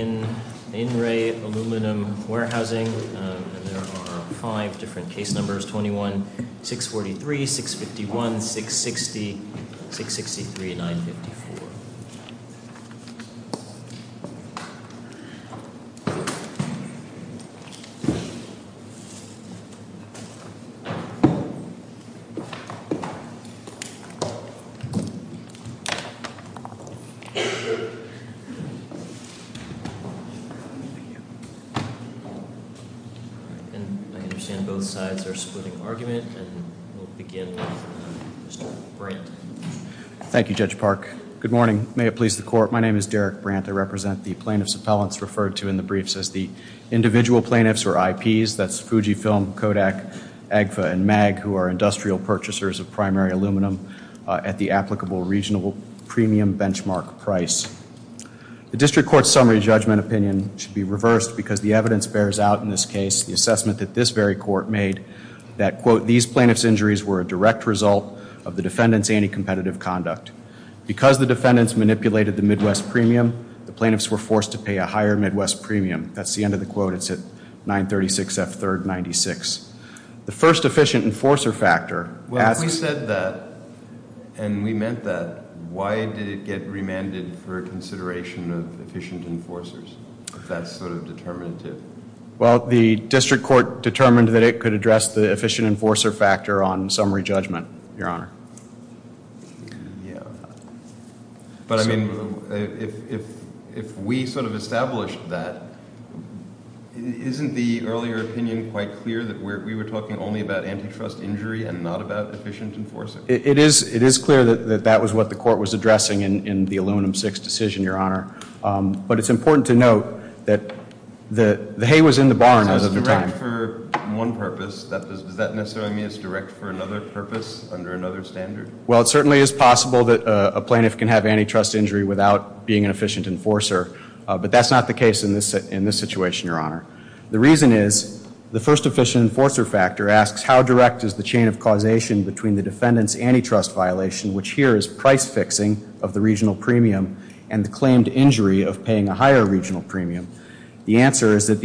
In Ray Aluminum Warehousing, and there are five different case numbers, 21-643-651-660-663-954. And I understand both sides are splitting argument, and we'll begin with Mr. Brandt. Thank you, Judge Park. Good morning. May it please the Court, my name is Derek Brandt. I represent the plaintiffs' appellants referred to in the briefs as the individual plaintiffs, or IPs. That's Fujifilm, Kodak, Agfa, and Mag, who are industrial purchasers of primary aluminum at the applicable regional premium benchmark price. The District Court's summary judgment opinion should be reversed because the evidence bears out in this case, the assessment that this very Court made that, quote, these plaintiffs' injuries were a direct result of the defendants' anti-competitive conduct. Because the defendants manipulated the Midwest premium, the plaintiffs were forced to pay a higher Midwest premium. That's the end of the quote. It's at 936 F. 3rd 96. The first efficient enforcer factor asks... Well, if we said that, and we meant that, why did it get remanded for consideration of efficient enforcers? That's sort of determinative. Well, the District Court determined that it could address the efficient enforcer factor on summary judgment, Your Honor. Yeah. But, I mean, if we sort of established that, isn't the earlier opinion quite clear that we were talking only about antitrust injury and not about efficient enforcers? It is clear that that was what the Court was addressing in the Aluminum VI decision, Your Honor. But it's important to note that the hay was in the barn at the time. So it's direct for one purpose. Does that necessarily mean it's direct for another purpose under another standard? Well, it certainly is possible that a plaintiff can have antitrust injury without being an efficient enforcer. But that's not the case in this situation, Your Honor. The reason is the first efficient enforcer factor asks... How direct is the chain of causation between the defendant's antitrust violation, which here is price fixing of the regional premium, and the claimed injury of paying a higher regional premium? The answer is that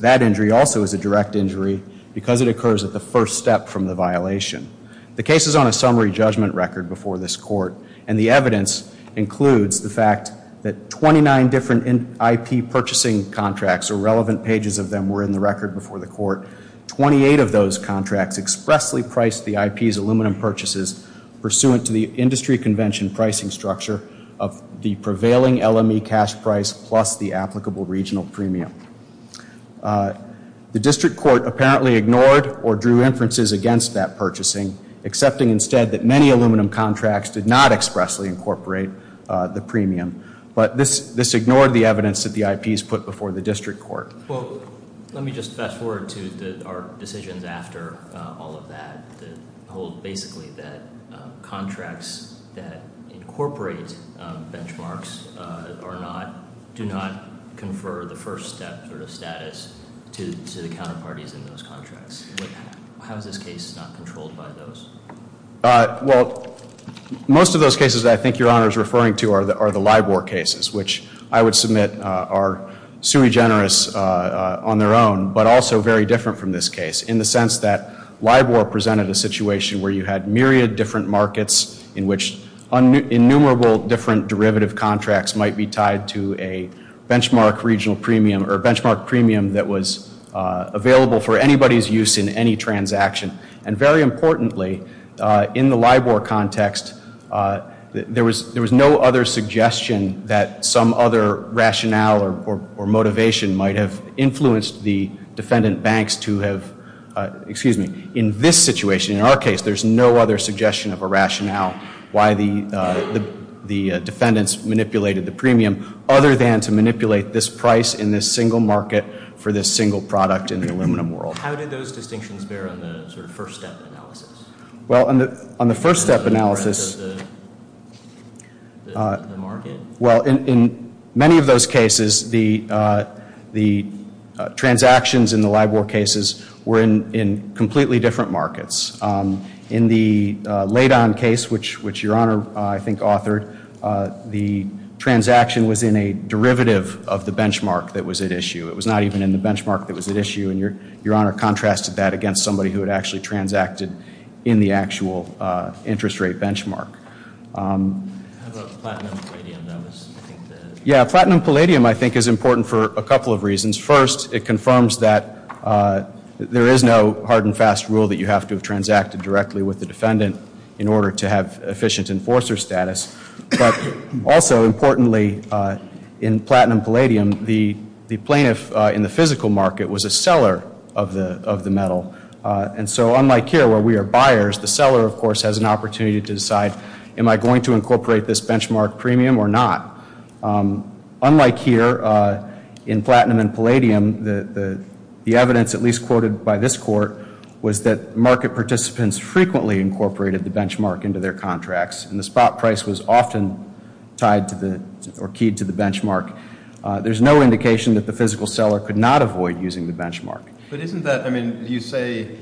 that injury also is a direct injury because it occurs at the first step from the violation. The case is on a summary judgment record before this Court. And the evidence includes the fact that 29 different IP purchasing contracts or relevant pages of them were in the record before the Court. Twenty-eight of those contracts expressly priced the IP's aluminum purchases pursuant to the industry convention pricing structure of the prevailing LME cash price plus the applicable regional premium. The district court apparently ignored or drew inferences against that purchasing, accepting instead that many aluminum contracts did not expressly incorporate the premium. But this ignored the evidence that the IP's put before the district court. Well, let me just fast forward to our decisions after all of that that hold basically that contracts that incorporate benchmarks do not confer the first step sort of status to the counterparties in those contracts. How is this case not controlled by those? Well, most of those cases that I think Your Honor is referring to are the LIBOR cases, which I would submit are sui generis on their own, but also very different from this case, in the sense that LIBOR presented a situation where you had myriad different markets in which innumerable different derivative contracts might be tied to a benchmark premium that was available for anybody's use in any transaction. And very importantly, in the LIBOR context, there was no other suggestion that some other rationale or motivation might have influenced the defendant banks to have, excuse me, in this situation, in our case, there's no other suggestion of a rationale why the defendants manipulated the premium other than to manipulate this price in this single market for this single product in the aluminum world. How did those distinctions bear on the sort of first step analysis? Well, on the first step analysis... On the breadth of the market? Well, in many of those cases, the transactions in the LIBOR cases were in completely different markets. In the LADON case, which Your Honor, I think, authored, the transaction was in a derivative of the benchmark that was at issue. It was not even in the benchmark that was at issue, and Your Honor contrasted that against somebody who had actually transacted in the actual interest rate benchmark. How about platinum palladium? Yeah, platinum palladium, I think, is important for a couple of reasons. First, it confirms that there is no hard and fast rule that you have to have transacted directly with the defendant in order to have efficient enforcer status. But also, importantly, in platinum palladium, the plaintiff in the physical market was a seller of the metal. And so unlike here, where we are buyers, the seller, of course, has an opportunity to decide, am I going to incorporate this benchmark premium or not? Unlike here, in platinum and palladium, the evidence, at least quoted by this court, was that market participants frequently incorporated the benchmark into their contracts, and the spot price was often tied to the, or keyed to the benchmark. There's no indication that the physical seller could not avoid using the benchmark. But isn't that, I mean, you say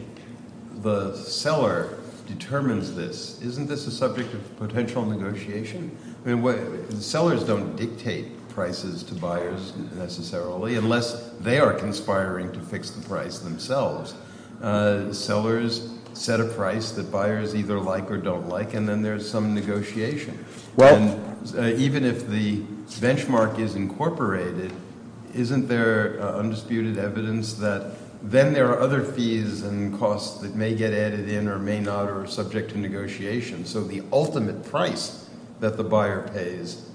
the seller determines this. Isn't this a subject of potential negotiation? I mean, sellers don't dictate prices to buyers, necessarily, unless they are conspiring to fix the price themselves. Sellers set a price that buyers either like or don't like, and then there's some negotiation. And even if the benchmark is incorporated, isn't there undisputed evidence that then there are other fees and costs that may get added in or may not or are subject to negotiation? So the ultimate price that the buyer pays,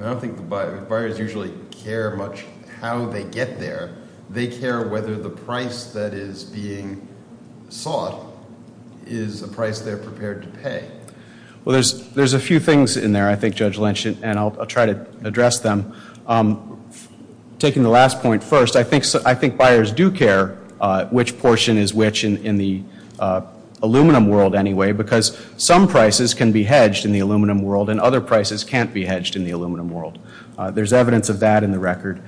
I don't think the buyers usually care much how they get there. They care whether the price that is being sought is a price they're prepared to pay. Well, there's a few things in there, I think, Judge Lynch, and I'll try to address them. Taking the last point first, I think buyers do care which portion is which in the aluminum world anyway, because some prices can be hedged in the aluminum world and other prices can't be hedged in the aluminum world. There's evidence of that in the record.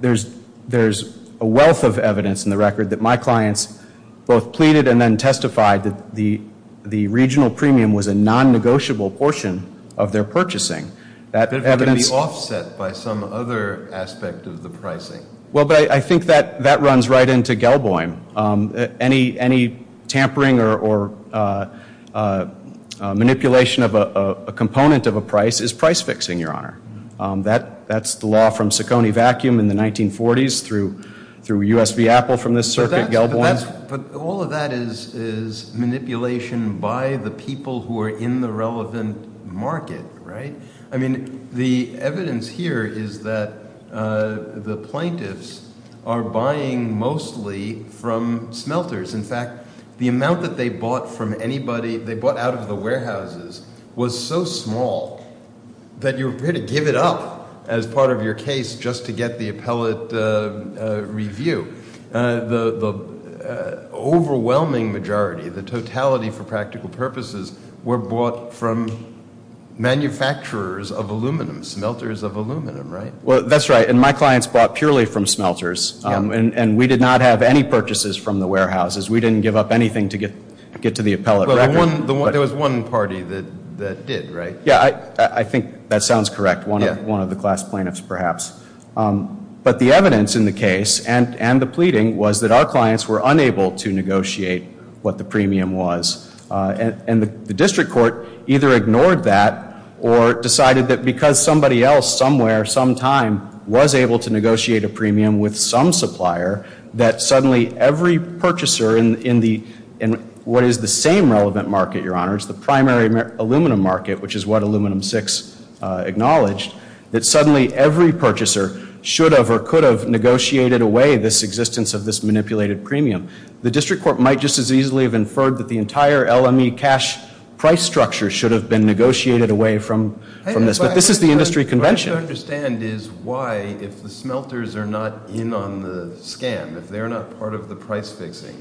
There's a wealth of evidence in the record that my clients both pleaded and then testified that the regional premium was a non-negotiable portion of their purchasing. That evidence- It could be offset by some other aspect of the pricing. Well, but I think that runs right into Gelboim. Any tampering or manipulation of a component of a price is price fixing, Your Honor. That's the law from Ciccone Vacuum in the 1940s through U.S. v. Apple from this circuit, Gelboim. But all of that is manipulation by the people who are in the relevant market, right? I mean, the evidence here is that the plaintiffs are buying mostly from smelters. In fact, the amount that they bought from anybody, they bought out of the warehouses, was so small that you were prepared to give it up as part of your case just to get the appellate review. The overwhelming majority, the totality for practical purposes, were bought from manufacturers of aluminum, smelters of aluminum, right? Well, that's right. And my clients bought purely from smelters. And we did not have any purchases from the warehouses. We didn't give up anything to get to the appellate record. There was one party that did, right? Yeah, I think that sounds correct. One of the class plaintiffs, perhaps. But the evidence in the case and the pleading was that our clients were unable to negotiate what the premium was. And the district court either ignored that or decided that because somebody else somewhere, sometime, was able to negotiate a premium with some supplier, that suddenly every purchaser in what is the same relevant market, Your Honors, the primary aluminum market, which is what Aluminum VI acknowledged, that suddenly every purchaser should have or could have negotiated away this existence of this manipulated premium. The district court might just as easily have inferred that the entire LME cash price structure should have been negotiated away from this. But this is the industry convention. What I don't understand is why, if the smelters are not in on the scan, if they're not part of the price fixing,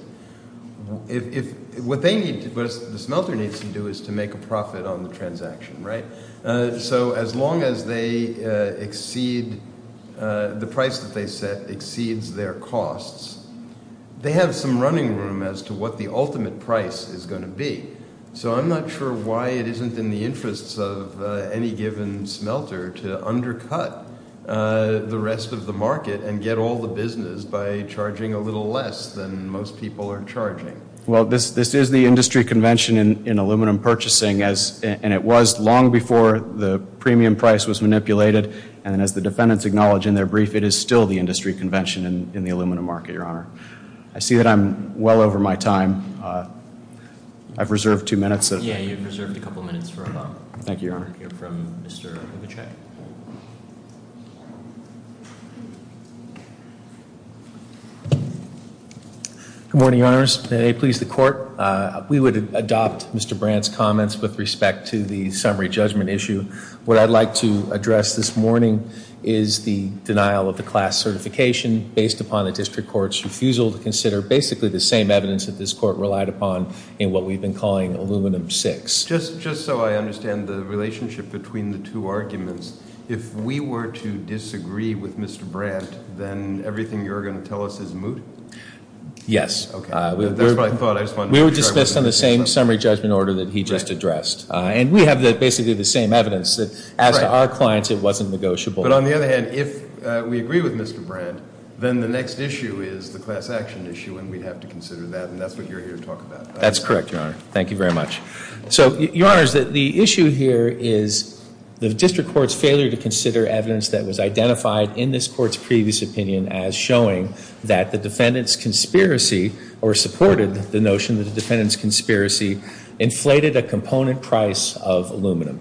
what the smelter needs to do is to make a profit on the transaction, right? So as long as they exceed, the price that they set exceeds their costs, they have some running room as to what the ultimate price is going to be. So I'm not sure why it isn't in the interests of any given smelter to undercut the rest of the market and get all the business by charging a little less than most people are charging. Well, this is the industry convention in aluminum purchasing, and it was long before the premium price was manipulated. And as the defendants acknowledge in their brief, it is still the industry convention in the aluminum market, Your Honor. I see that I'm well over my time. I've reserved two minutes. Yeah, you've reserved a couple of minutes for a moment. Thank you, Your Honor. We'll hear from Mr. Huchek. Good morning, Your Honors. May it please the Court. We would adopt Mr. Brandt's comments with respect to the summary judgment issue. What I'd like to address this morning is the denial of the class certification based upon the district court's refusal to consider basically the same evidence that this court relied upon in what we've been calling Aluminum VI. Just so I understand the relationship between the two arguments, if we were to disagree with Mr. Brandt, then everything you're going to tell us is moot? Yes. That's what I thought. We were dismissed on the same summary judgment order that he just addressed. And we have basically the same evidence that as to our clients it wasn't negotiable. But on the other hand, if we agree with Mr. Brandt, then the next issue is the class action issue, and we'd have to consider that, and that's what you're here to talk about. That's correct, Your Honor. Thank you very much. So, Your Honors, the issue here is the district court's failure to consider evidence that was identified in this court's previous opinion as showing that the defendant's conspiracy or supported the notion that the defendant's conspiracy inflated a component price of aluminum.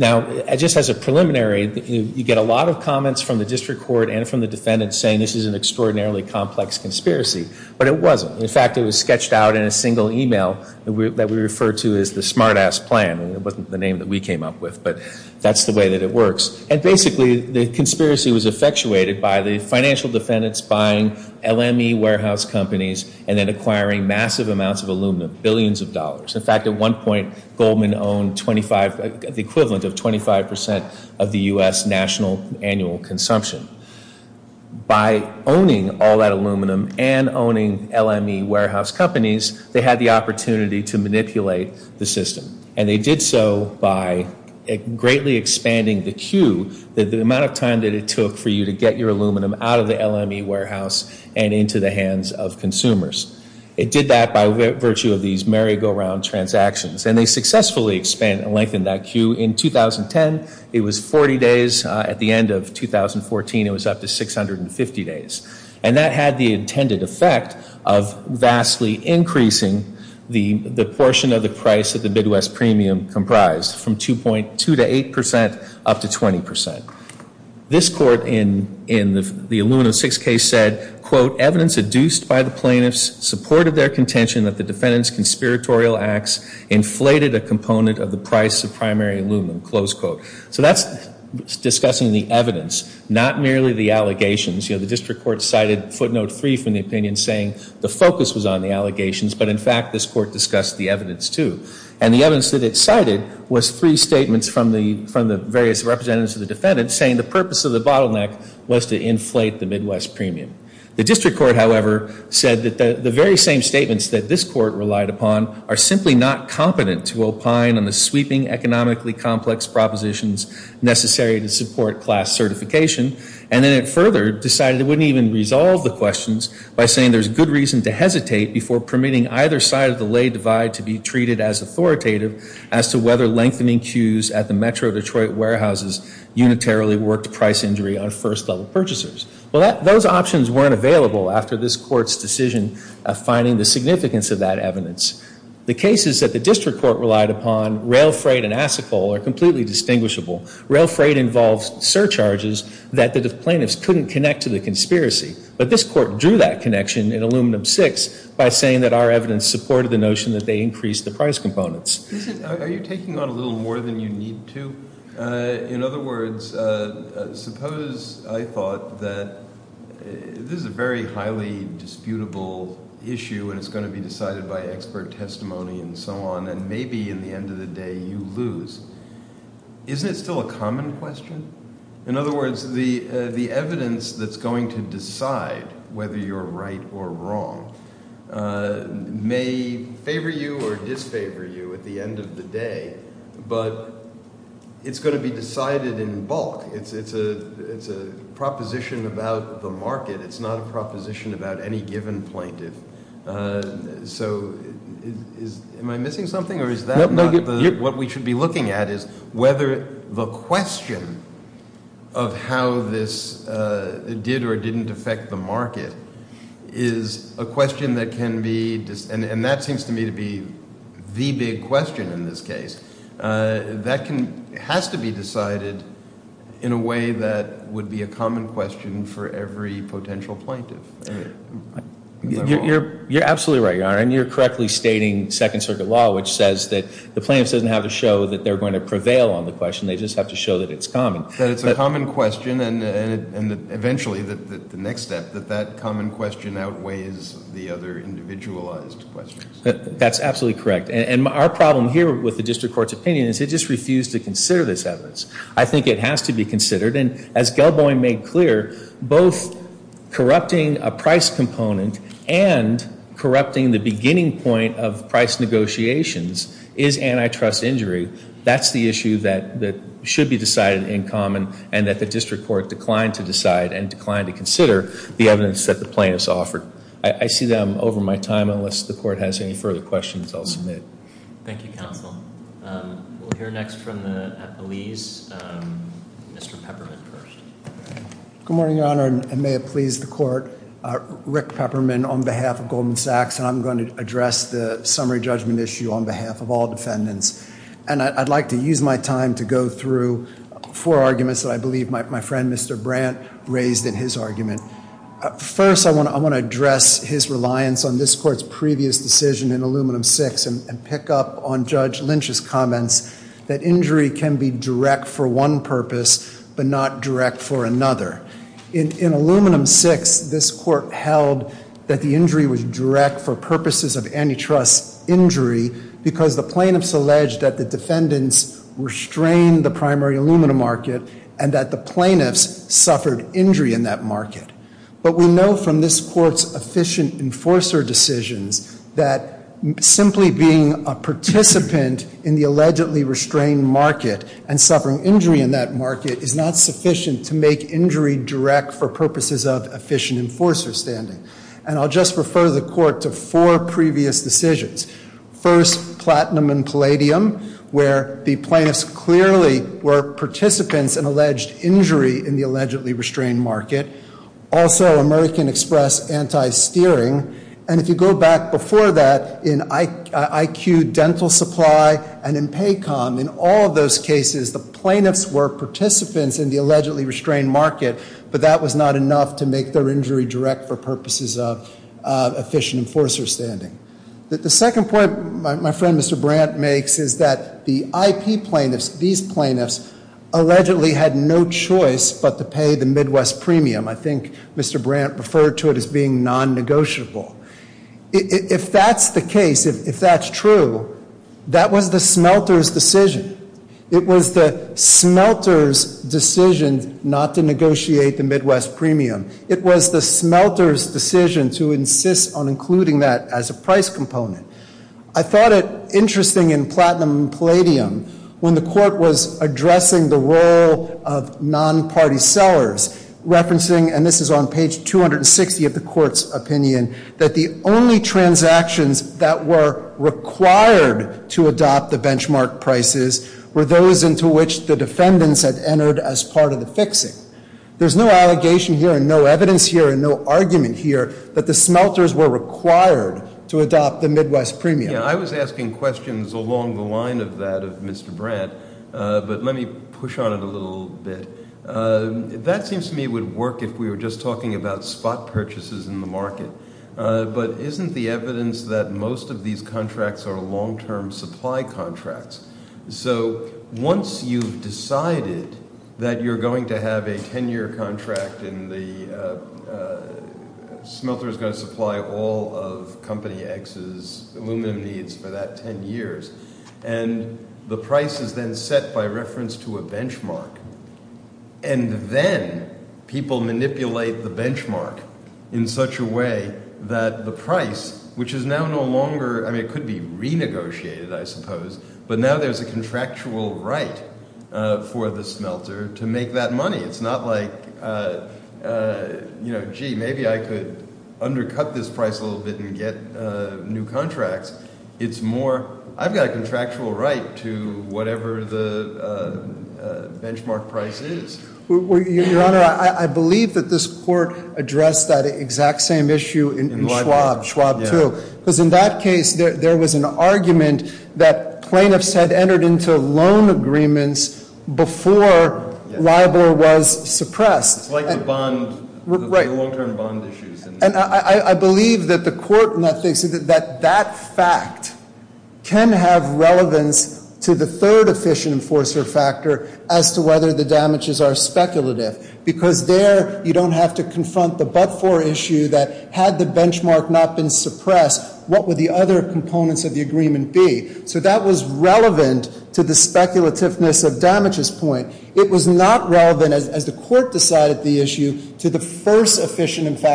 Now, just as a preliminary, you get a lot of comments from the district court and from the defendant saying this is an extraordinarily complex conspiracy, but it wasn't. In fact, it was sketched out in a single email that we refer to as the smart-ass plan. It wasn't the name that we came up with, but that's the way that it works. And basically, the conspiracy was effectuated by the financial defendants buying LME warehouse companies and then acquiring massive amounts of aluminum, billions of dollars. In fact, at one point, Goldman owned the equivalent of 25% of the U.S. national annual consumption. By owning all that aluminum and owning LME warehouse companies, they had the opportunity to manipulate the system. And they did so by greatly expanding the queue, the amount of time that it took for you to get your aluminum out of the LME warehouse and into the hands of consumers. It did that by virtue of these merry-go-round transactions, and they successfully expanded and lengthened that queue. In 2010, it was 40 days. At the end of 2014, it was up to 650 days. And that had the intended effect of vastly increasing the portion of the price that the Midwest premium comprised from 2.2% to 8% up to 20%. This court in the aluminum 6 case said, quote, evidence adduced by the plaintiffs supported their contention that the defendant's conspiratorial acts inflated a component of the price of primary aluminum. Close quote. So that's discussing the evidence, not merely the allegations. You know, the district court cited footnote three from the opinion saying the focus was on the allegations, but in fact this court discussed the evidence too. And the evidence that it cited was three statements from the various representatives of the defendant saying the purpose of the bottleneck was to inflate the Midwest premium. The district court, however, said that the very same statements that this court relied upon are simply not competent to opine on the sweeping economically complex propositions necessary to support class certification. And then it further decided it wouldn't even resolve the questions by saying there's good reason to hesitate before permitting either side of the lay divide to be treated as authoritative as to whether lengthening queues at the Metro Detroit warehouses unitarily worked price injury on first-level purchasers. Well, those options weren't available after this court's decision of finding the significance of that evidence. The cases that the district court relied upon, rail freight and acid coal, are completely distinguishable. Rail freight involves surcharges that the plaintiffs couldn't connect to the conspiracy. But this court drew that connection in Aluminum 6 by saying that our evidence supported the notion that they increased the price components. Are you taking on a little more than you need to? In other words, suppose I thought that this is a very highly disputable issue and it's going to be decided by expert testimony and so on, and maybe in the end of the day you lose. Isn't it still a common question? In other words, the evidence that's going to decide whether you're right or wrong may favor you or disfavor you at the end of the day. But it's going to be decided in bulk. It's a proposition about the market. It's not a proposition about any given plaintiff. So am I missing something? What we should be looking at is whether the question of how this did or didn't affect the market is a question that can be And that seems to me to be the big question in this case. That has to be decided in a way that would be a common question for every potential plaintiff. You're absolutely right, Your Honor, and you're correctly stating Second Circuit law, which says that the plaintiffs don't have to show that they're going to prevail on the question. They just have to show that it's common. That it's a common question, and eventually the next step, that that common question outweighs the other individualized questions. That's absolutely correct. And our problem here with the District Court's opinion is it just refused to consider this evidence. I think it has to be considered, and as Gelboy made clear, both corrupting a price component and corrupting the beginning point of price negotiations is antitrust injury. That's the issue that should be decided in common, and that the District Court declined to decide and declined to consider the evidence that the plaintiffs offered. I see that I'm over my time, unless the Court has any further questions I'll submit. Thank you, Counsel. We'll hear next from the police. Mr. Peppermint first. Good morning, Your Honor, and may it please the Court. Rick Peppermint on behalf of Goldman Sachs, and I'm going to address the summary judgment issue on behalf of all defendants. And I'd like to use my time to go through four arguments that I believe my friend, Mr. Brandt, raised in his argument. First, I want to address his reliance on this Court's previous decision in Aluminum VI and pick up on Judge Lynch's comments that injury can be direct for one purpose but not direct for another. In Aluminum VI, this Court held that the injury was direct for purposes of antitrust injury because the plaintiffs alleged that the defendants restrained the primary aluminum market and that the plaintiffs suffered injury in that market. But we know from this Court's efficient enforcer decisions that simply being a participant in the allegedly restrained market and suffering injury in that market is not sufficient to make injury direct for purposes of efficient enforcer standing. And I'll just refer the Court to four previous decisions. First, Platinum and Palladium, where the plaintiffs clearly were participants in alleged injury in the allegedly restrained market. Also, American Express anti-steering. And if you go back before that, in IQ Dental Supply and in PACOM, in all of those cases, the plaintiffs were participants in the allegedly restrained market, but that was not enough to make their injury direct for purposes of efficient enforcer standing. The second point my friend Mr. Brandt makes is that the IP plaintiffs, these plaintiffs, allegedly had no choice but to pay the Midwest premium. I think Mr. Brandt referred to it as being non-negotiable. If that's the case, if that's true, that was the smelter's decision. It was the smelter's decision not to negotiate the Midwest premium. It was the smelter's decision to insist on including that as a price component. I thought it interesting in Platinum and Palladium when the Court was addressing the role of non-party sellers, referencing, and this is on page 260 of the Court's opinion, that the only transactions that were required to adopt the benchmark prices were those into which the defendants had entered as part of the fixing. There's no allegation here and no evidence here and no argument here that the smelters were required to adopt the Midwest premium. Yeah, I was asking questions along the line of that of Mr. Brandt, but let me push on it a little bit. That seems to me would work if we were just talking about spot purchases in the market, but isn't the evidence that most of these contracts are long-term supply contracts? So once you've decided that you're going to have a ten-year contract and the smelter's going to supply all of Company X's aluminum needs for that ten years, and the price is then set by reference to a benchmark, and then people manipulate the benchmark in such a way that the price, which is now no longer, I mean, it could be renegotiated, I suppose, but now there's a contractual right for the smelter to make that money. It's not like, gee, maybe I could undercut this price a little bit and get new contracts. It's more, I've got a contractual right to whatever the benchmark price is. Your Honor, I believe that this Court addressed that exact same issue in Schwab, Schwab 2. Because in that case, there was an argument that plaintiffs had entered into loan agreements before LIBOR was suppressed. It's like the bond, the long-term bond issues. And I believe that the Court in that case, that that fact can have relevance to the third efficient enforcer factor as to whether the damages are speculative. Because there, you don't have to confront the but-for issue that had the benchmark not been suppressed, what would the other components of the agreement be? So that was relevant to the speculativeness of damages point. It was not relevant, as the Court decided the issue, to the first efficient enforcer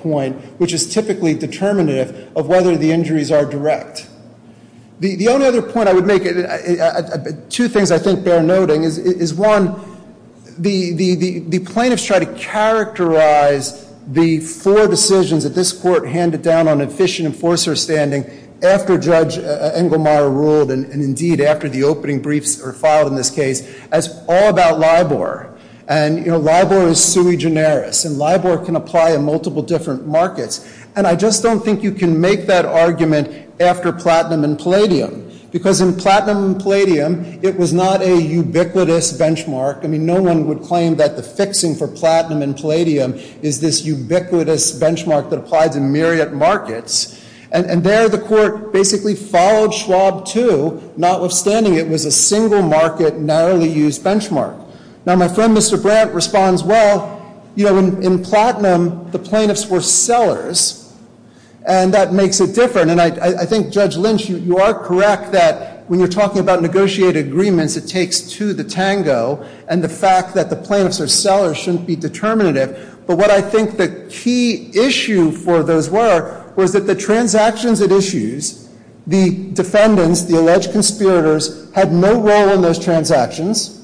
point, which is typically determinative of whether the injuries are direct. The only other point I would make, two things I think they're noting, is one, the plaintiffs try to characterize the four decisions that this Court handed down on efficient enforcer standing after Judge Engelmeyer ruled, and indeed after the opening briefs were filed in this case, as all about LIBOR. And, you know, LIBOR is sui generis, and LIBOR can apply in multiple different markets. And I just don't think you can make that argument after Platinum and Palladium. Because in Platinum and Palladium, it was not a ubiquitous benchmark. I mean, no one would claim that the fixing for Platinum and Palladium is this ubiquitous benchmark that applies in myriad markets. And there, the Court basically followed Schwab too, notwithstanding it was a single market, narrowly used benchmark. Now, my friend, Mr. Brandt, responds, well, you know, in Platinum, the plaintiffs were sellers, and that makes it different. And I think, Judge Lynch, you are correct that when you're talking about negotiated agreements, it takes to the tango and the fact that the plaintiffs are sellers shouldn't be determinative. But what I think the key issue for those were was that the transactions at issues, the defendants, the alleged conspirators, had no role in those transactions.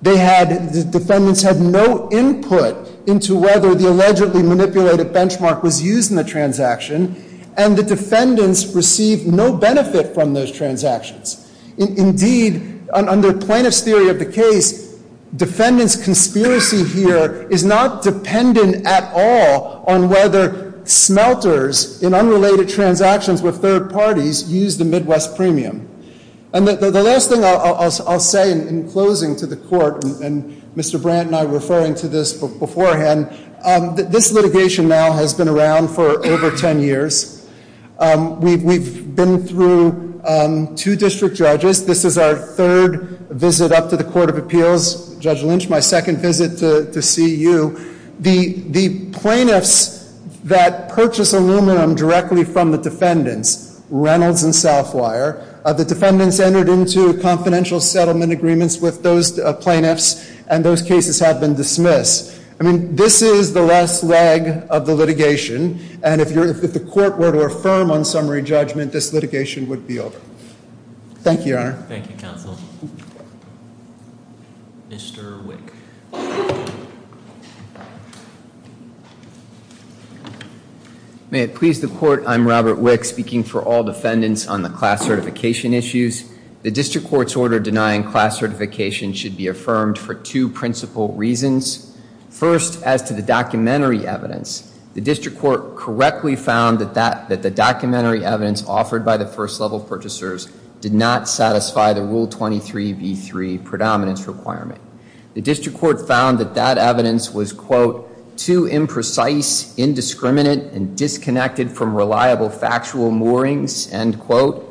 They had, the defendants had no input into whether the allegedly manipulated benchmark was used in the transaction. And the defendants received no benefit from those transactions. Indeed, under plaintiffs' theory of the case, defendants' conspiracy here is not dependent at all on whether smelters in unrelated transactions with third parties use the Midwest premium. And the last thing I'll say in closing to the Court, and Mr. Brandt and I were referring to this beforehand, this litigation now has been around for over 10 years. We've been through two district judges. This is our third visit up to the Court of Appeals. Judge Lynch, my second visit to see you. The plaintiffs that purchase aluminum directly from the defendants, Reynolds and Southwire, the defendants entered into confidential settlement agreements with those plaintiffs, and those cases have been dismissed. I mean, this is the last leg of the litigation. And if the Court were to affirm on summary judgment, this litigation would be over. Thank you, Your Honor. Thank you, Counsel. Mr. Wick. May it please the Court, I'm Robert Wick, speaking for all defendants on the class certification issues. The district court's order denying class certification should be affirmed for two principal reasons. First, as to the documentary evidence, the district court correctly found that the documentary evidence offered by the first level purchasers did not satisfy the Rule 23b3 predominance requirement. The district court found that that evidence was, quote, too imprecise, indiscriminate, and disconnected from reliable factual moorings, end quote,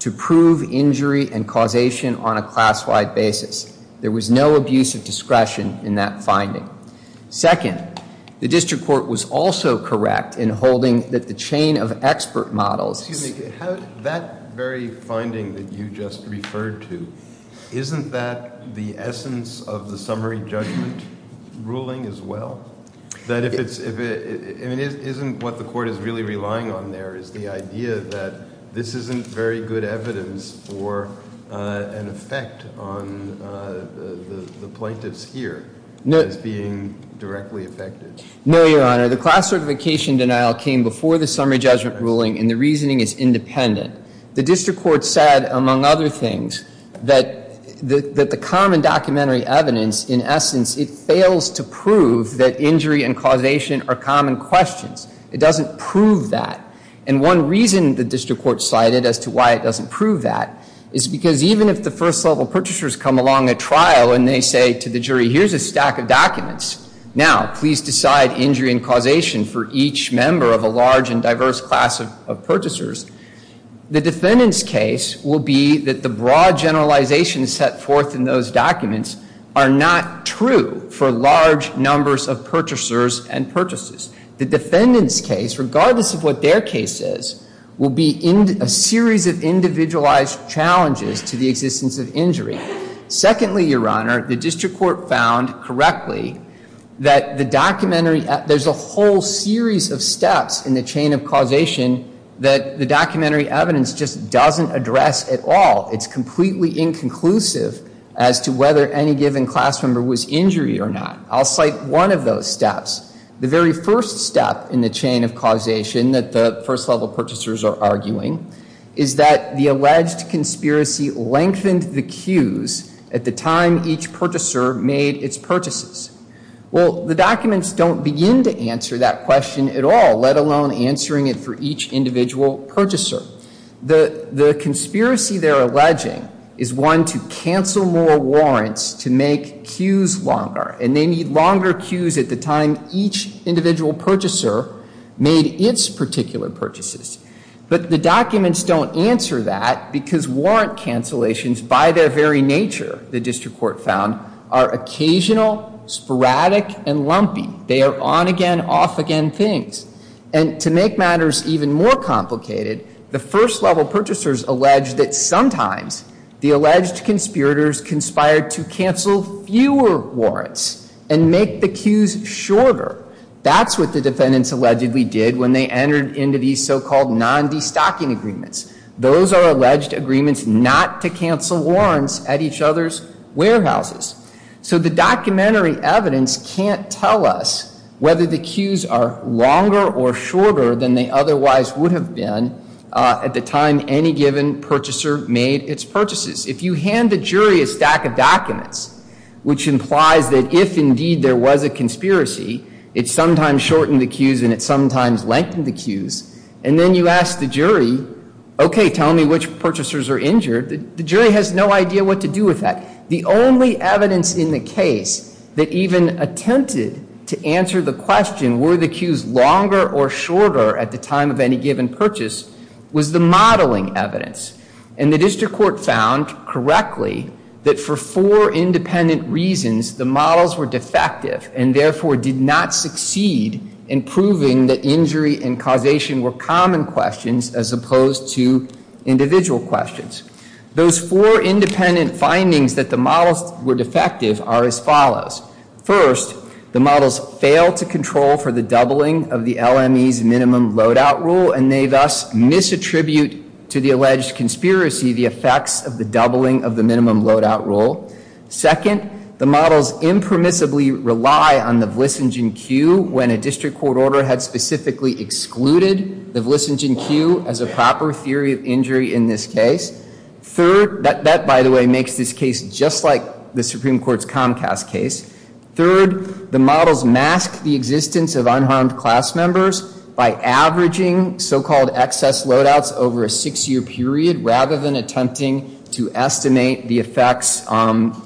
to prove injury and causation on a class-wide basis. There was no abuse of discretion in that finding. Second, the district court was also correct in holding that the chain of expert models Excuse me, that very finding that you just referred to, isn't that the essence of the summary judgment ruling as well? That if it's, I mean, isn't what the Court is really relying on there is the idea that this isn't very good evidence for an effect on the plaintiffs here as being directly affected? No, Your Honor. The class certification denial came before the summary judgment ruling, and the reasoning is independent. The district court said, among other things, that the common documentary evidence, in essence, it fails to prove that injury and causation are common questions. It doesn't prove that. And one reason the district court cited as to why it doesn't prove that is because even if the first level purchasers come along at trial and they say to the jury, here's a stack of documents. Now, please decide injury and causation for each member of a large and diverse class of purchasers. The defendant's case will be that the broad generalization set forth in those documents are not true for large numbers of purchasers and purchases. The defendant's case, regardless of what their case is, will be a series of individualized challenges to the existence of injury. Secondly, Your Honor, the district court found correctly that the documentary, there's a whole series of steps in the chain of causation that the documentary evidence just doesn't address at all. It's completely inconclusive as to whether any given class member was injured or not. I'll cite one of those steps. The very first step in the chain of causation that the first level purchasers are arguing is that the alleged conspiracy lengthened the queues at the time each purchaser made its purchases. Well, the documents don't begin to answer that question at all, let alone answering it for each individual purchaser. The conspiracy they're alleging is one to cancel more warrants to make queues longer, and they need longer queues at the time each individual purchaser made its particular purchases. But the documents don't answer that because warrant cancellations, by their very nature, the district court found, are occasional, sporadic, and lumpy. They are on-again, off-again things. And to make matters even more complicated, the first level purchasers allege that sometimes the alleged conspirators conspired to cancel fewer warrants and make the queues shorter. That's what the defendants allegedly did when they entered into these so-called non-destocking agreements. Those are alleged agreements not to cancel warrants at each other's warehouses. So the documentary evidence can't tell us whether the queues are longer or shorter than they otherwise would have been at the time any given purchaser made its purchases. If you hand the jury a stack of documents, which implies that if indeed there was a conspiracy, it sometimes shortened the queues and it sometimes lengthened the queues, and then you ask the jury, okay, tell me which purchasers are injured, the jury has no idea what to do with that. The only evidence in the case that even attempted to answer the question, were the queues longer or shorter at the time of any given purchase, was the modeling evidence. And the district court found correctly that for four independent reasons, the models were defective and therefore did not succeed in proving that injury and causation were common questions as opposed to individual questions. Those four independent findings that the models were defective are as follows. First, the models failed to control for the doubling of the LME's minimum loadout rule and they thus misattribute to the alleged conspiracy the effects of the doubling of the minimum loadout rule. Second, the models impermissibly rely on the Vlissingen queue when a district court order had specifically excluded the Vlissingen queue as a proper theory of injury in this case. Third, that by the way makes this case just like the Supreme Court's Comcast case. Third, the models mask the existence of unharmed class members by averaging so-called excess loadouts over a six-year period rather than attempting to estimate the effects of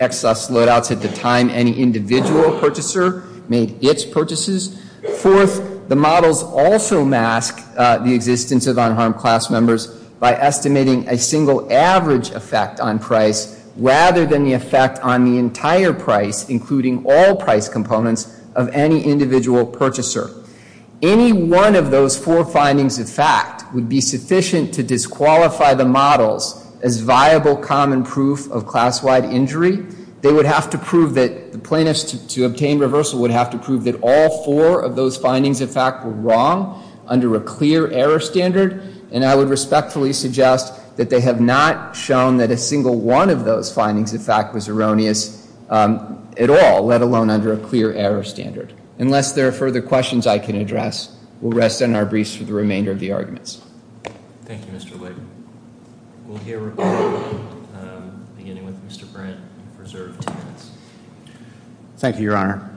excess loadouts at the time any individual purchaser made its purchases. Fourth, the models also mask the existence of unharmed class members by estimating a single average effect on price rather than the effect on the entire price, including all price components, of any individual purchaser. Any one of those four findings of fact would be sufficient to disqualify the models as viable common proof of class-wide injury. They would have to prove that the plaintiffs to obtain reversal would have to prove that all four of those findings of fact were wrong under a clear error standard and I would respectfully suggest that they have not shown that a single one of those findings of fact was erroneous at all, let alone under a clear error standard. Unless there are further questions I can address, we'll rest on our briefs for the remainder of the arguments. Thank you, Mr. Leib. We'll hear from you, beginning with Mr. Brandt, reserved ten minutes. Thank you, Your Honor.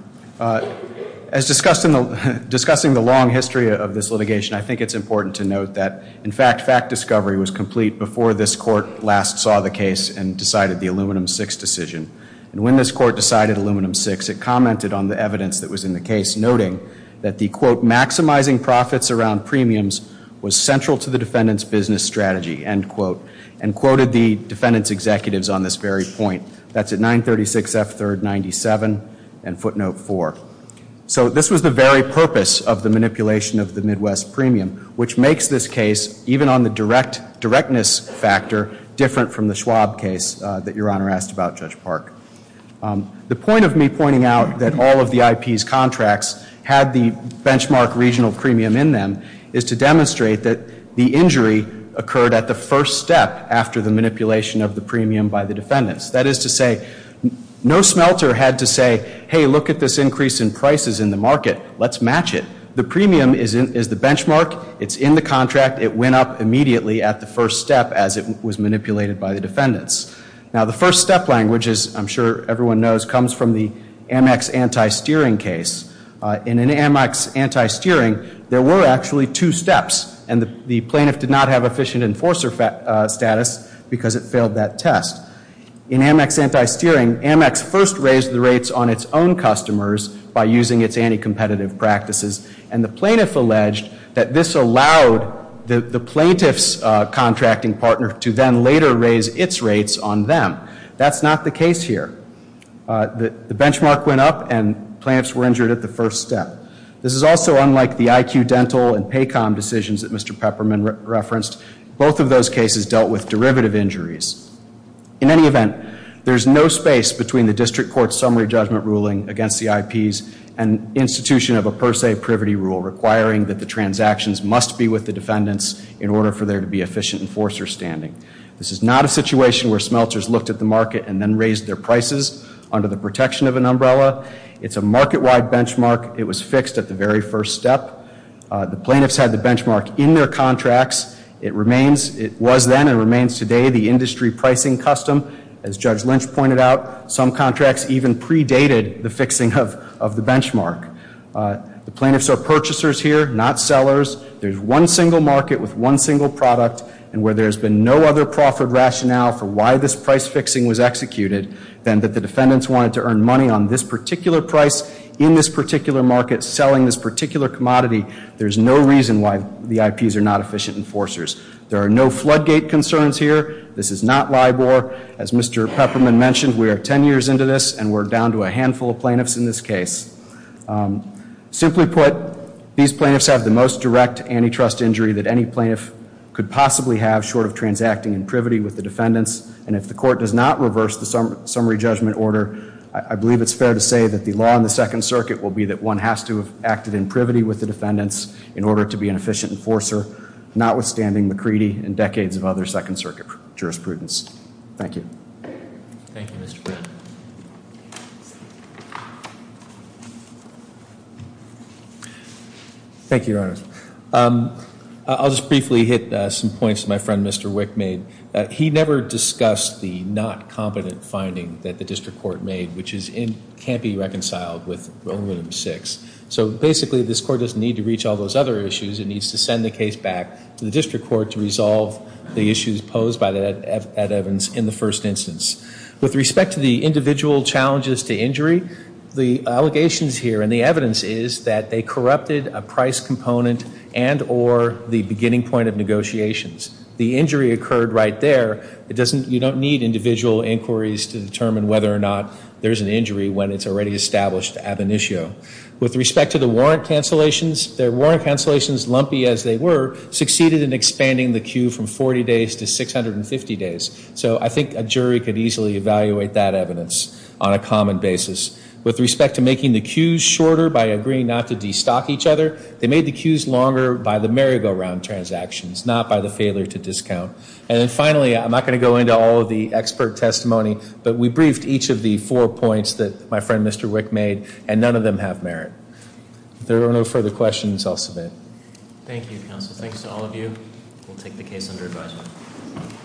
As discussing the long history of this litigation, I think it's important to note that, in fact, fact discovery was complete before this court last saw the case and decided the Aluminum VI decision. And when this court decided Aluminum VI, it commented on the evidence that was in the case, noting that the, quote, maximizing profits around premiums was central to the defendant's business strategy, end quote, and quoted the defendant's executives on this very point. That's at 936F3rd 97 and footnote 4. So this was the very purpose of the manipulation of the Midwest premium, which makes this case, even on the directness factor, different from the Schwab case that Your Honor asked about, Judge Park. The point of me pointing out that all of the IP's contracts had the benchmark regional premium in them is to demonstrate that the injury occurred at the first step after the manipulation of the premium by the defendants. That is to say, no smelter had to say, hey, look at this increase in prices in the market. Let's match it. The premium is the benchmark. It's in the contract. It went up immediately at the first step as it was manipulated by the defendants. Now, the first step language, as I'm sure everyone knows, comes from the Amex anti-steering case. In an Amex anti-steering, there were actually two steps, and the plaintiff did not have efficient enforcer status because it failed that test. In Amex anti-steering, Amex first raised the rates on its own customers by using its anti-competitive practices, and the plaintiff alleged that this allowed the plaintiff's contracting partner to then later raise its rates on them. That's not the case here. The benchmark went up, and plaintiffs were injured at the first step. This is also unlike the IQ Dental and PACOM decisions that Mr. Pepperman referenced. Both of those cases dealt with derivative injuries. In any event, there's no space between the district court's summary judgment ruling against the IP's and institution of a per se privity rule requiring that the transactions must be with the defendants in order for there to be efficient enforcer standing. This is not a situation where smelters looked at the market and then raised their prices under the protection of an umbrella. It's a market-wide benchmark. It was fixed at the very first step. The plaintiffs had the benchmark in their contracts. It was then and remains today the industry pricing custom. As Judge Lynch pointed out, some contracts even predated the fixing of the benchmark. The plaintiffs are purchasers here, not sellers. There's one single market with one single product, and where there's been no other proffered rationale for why this price fixing was executed than that the defendants wanted to earn money on this particular price in this particular market, selling this particular commodity, there's no reason why the IPs are not efficient enforcers. There are no floodgate concerns here. This is not LIBOR. As Mr. Pepperman mentioned, we are 10 years into this, and we're down to a handful of plaintiffs in this case. Simply put, these plaintiffs have the most direct antitrust injury that any plaintiff could possibly have short of transacting in privity with the defendants, and if the court does not reverse the summary judgment order, I believe it's fair to say that the law in the Second Circuit will be that one has to have acted in privity with the defendants in order to be an efficient enforcer, notwithstanding the creed and decades of other Second Circuit jurisprudence. Thank you. Thank you, Mr. Pepperman. Thank you, Your Honor. I'll just briefly hit some points my friend Mr. Wick made. He never discussed the not competent finding that the district court made, which is it can't be reconciled with Romanum VI. So basically this court doesn't need to reach all those other issues. It needs to send the case back to the district court to resolve the issues posed by Ed Evans in the first instance. With respect to the individual challenges to injury, the allegations here and the evidence is that they corrupted a price component and or the beginning point of negotiations. The injury occurred right there. You don't need individual inquiries to determine whether or not there's an injury when it's already established ad initio. With respect to the warrant cancellations, their warrant cancellations, lumpy as they were, succeeded in expanding the queue from 40 days to 650 days. So I think a jury could easily evaluate that evidence on a common basis. With respect to making the queues shorter by agreeing not to destock each other, they made the queues longer by the merry-go-round transactions, not by the failure to discount. And then finally, I'm not going to go into all of the expert testimony, but we briefed each of the four points that my friend Mr. Wick made, and none of them have merit. If there are no further questions, I'll submit. Thank you, counsel. Thanks to all of you. We'll take the case under advisement.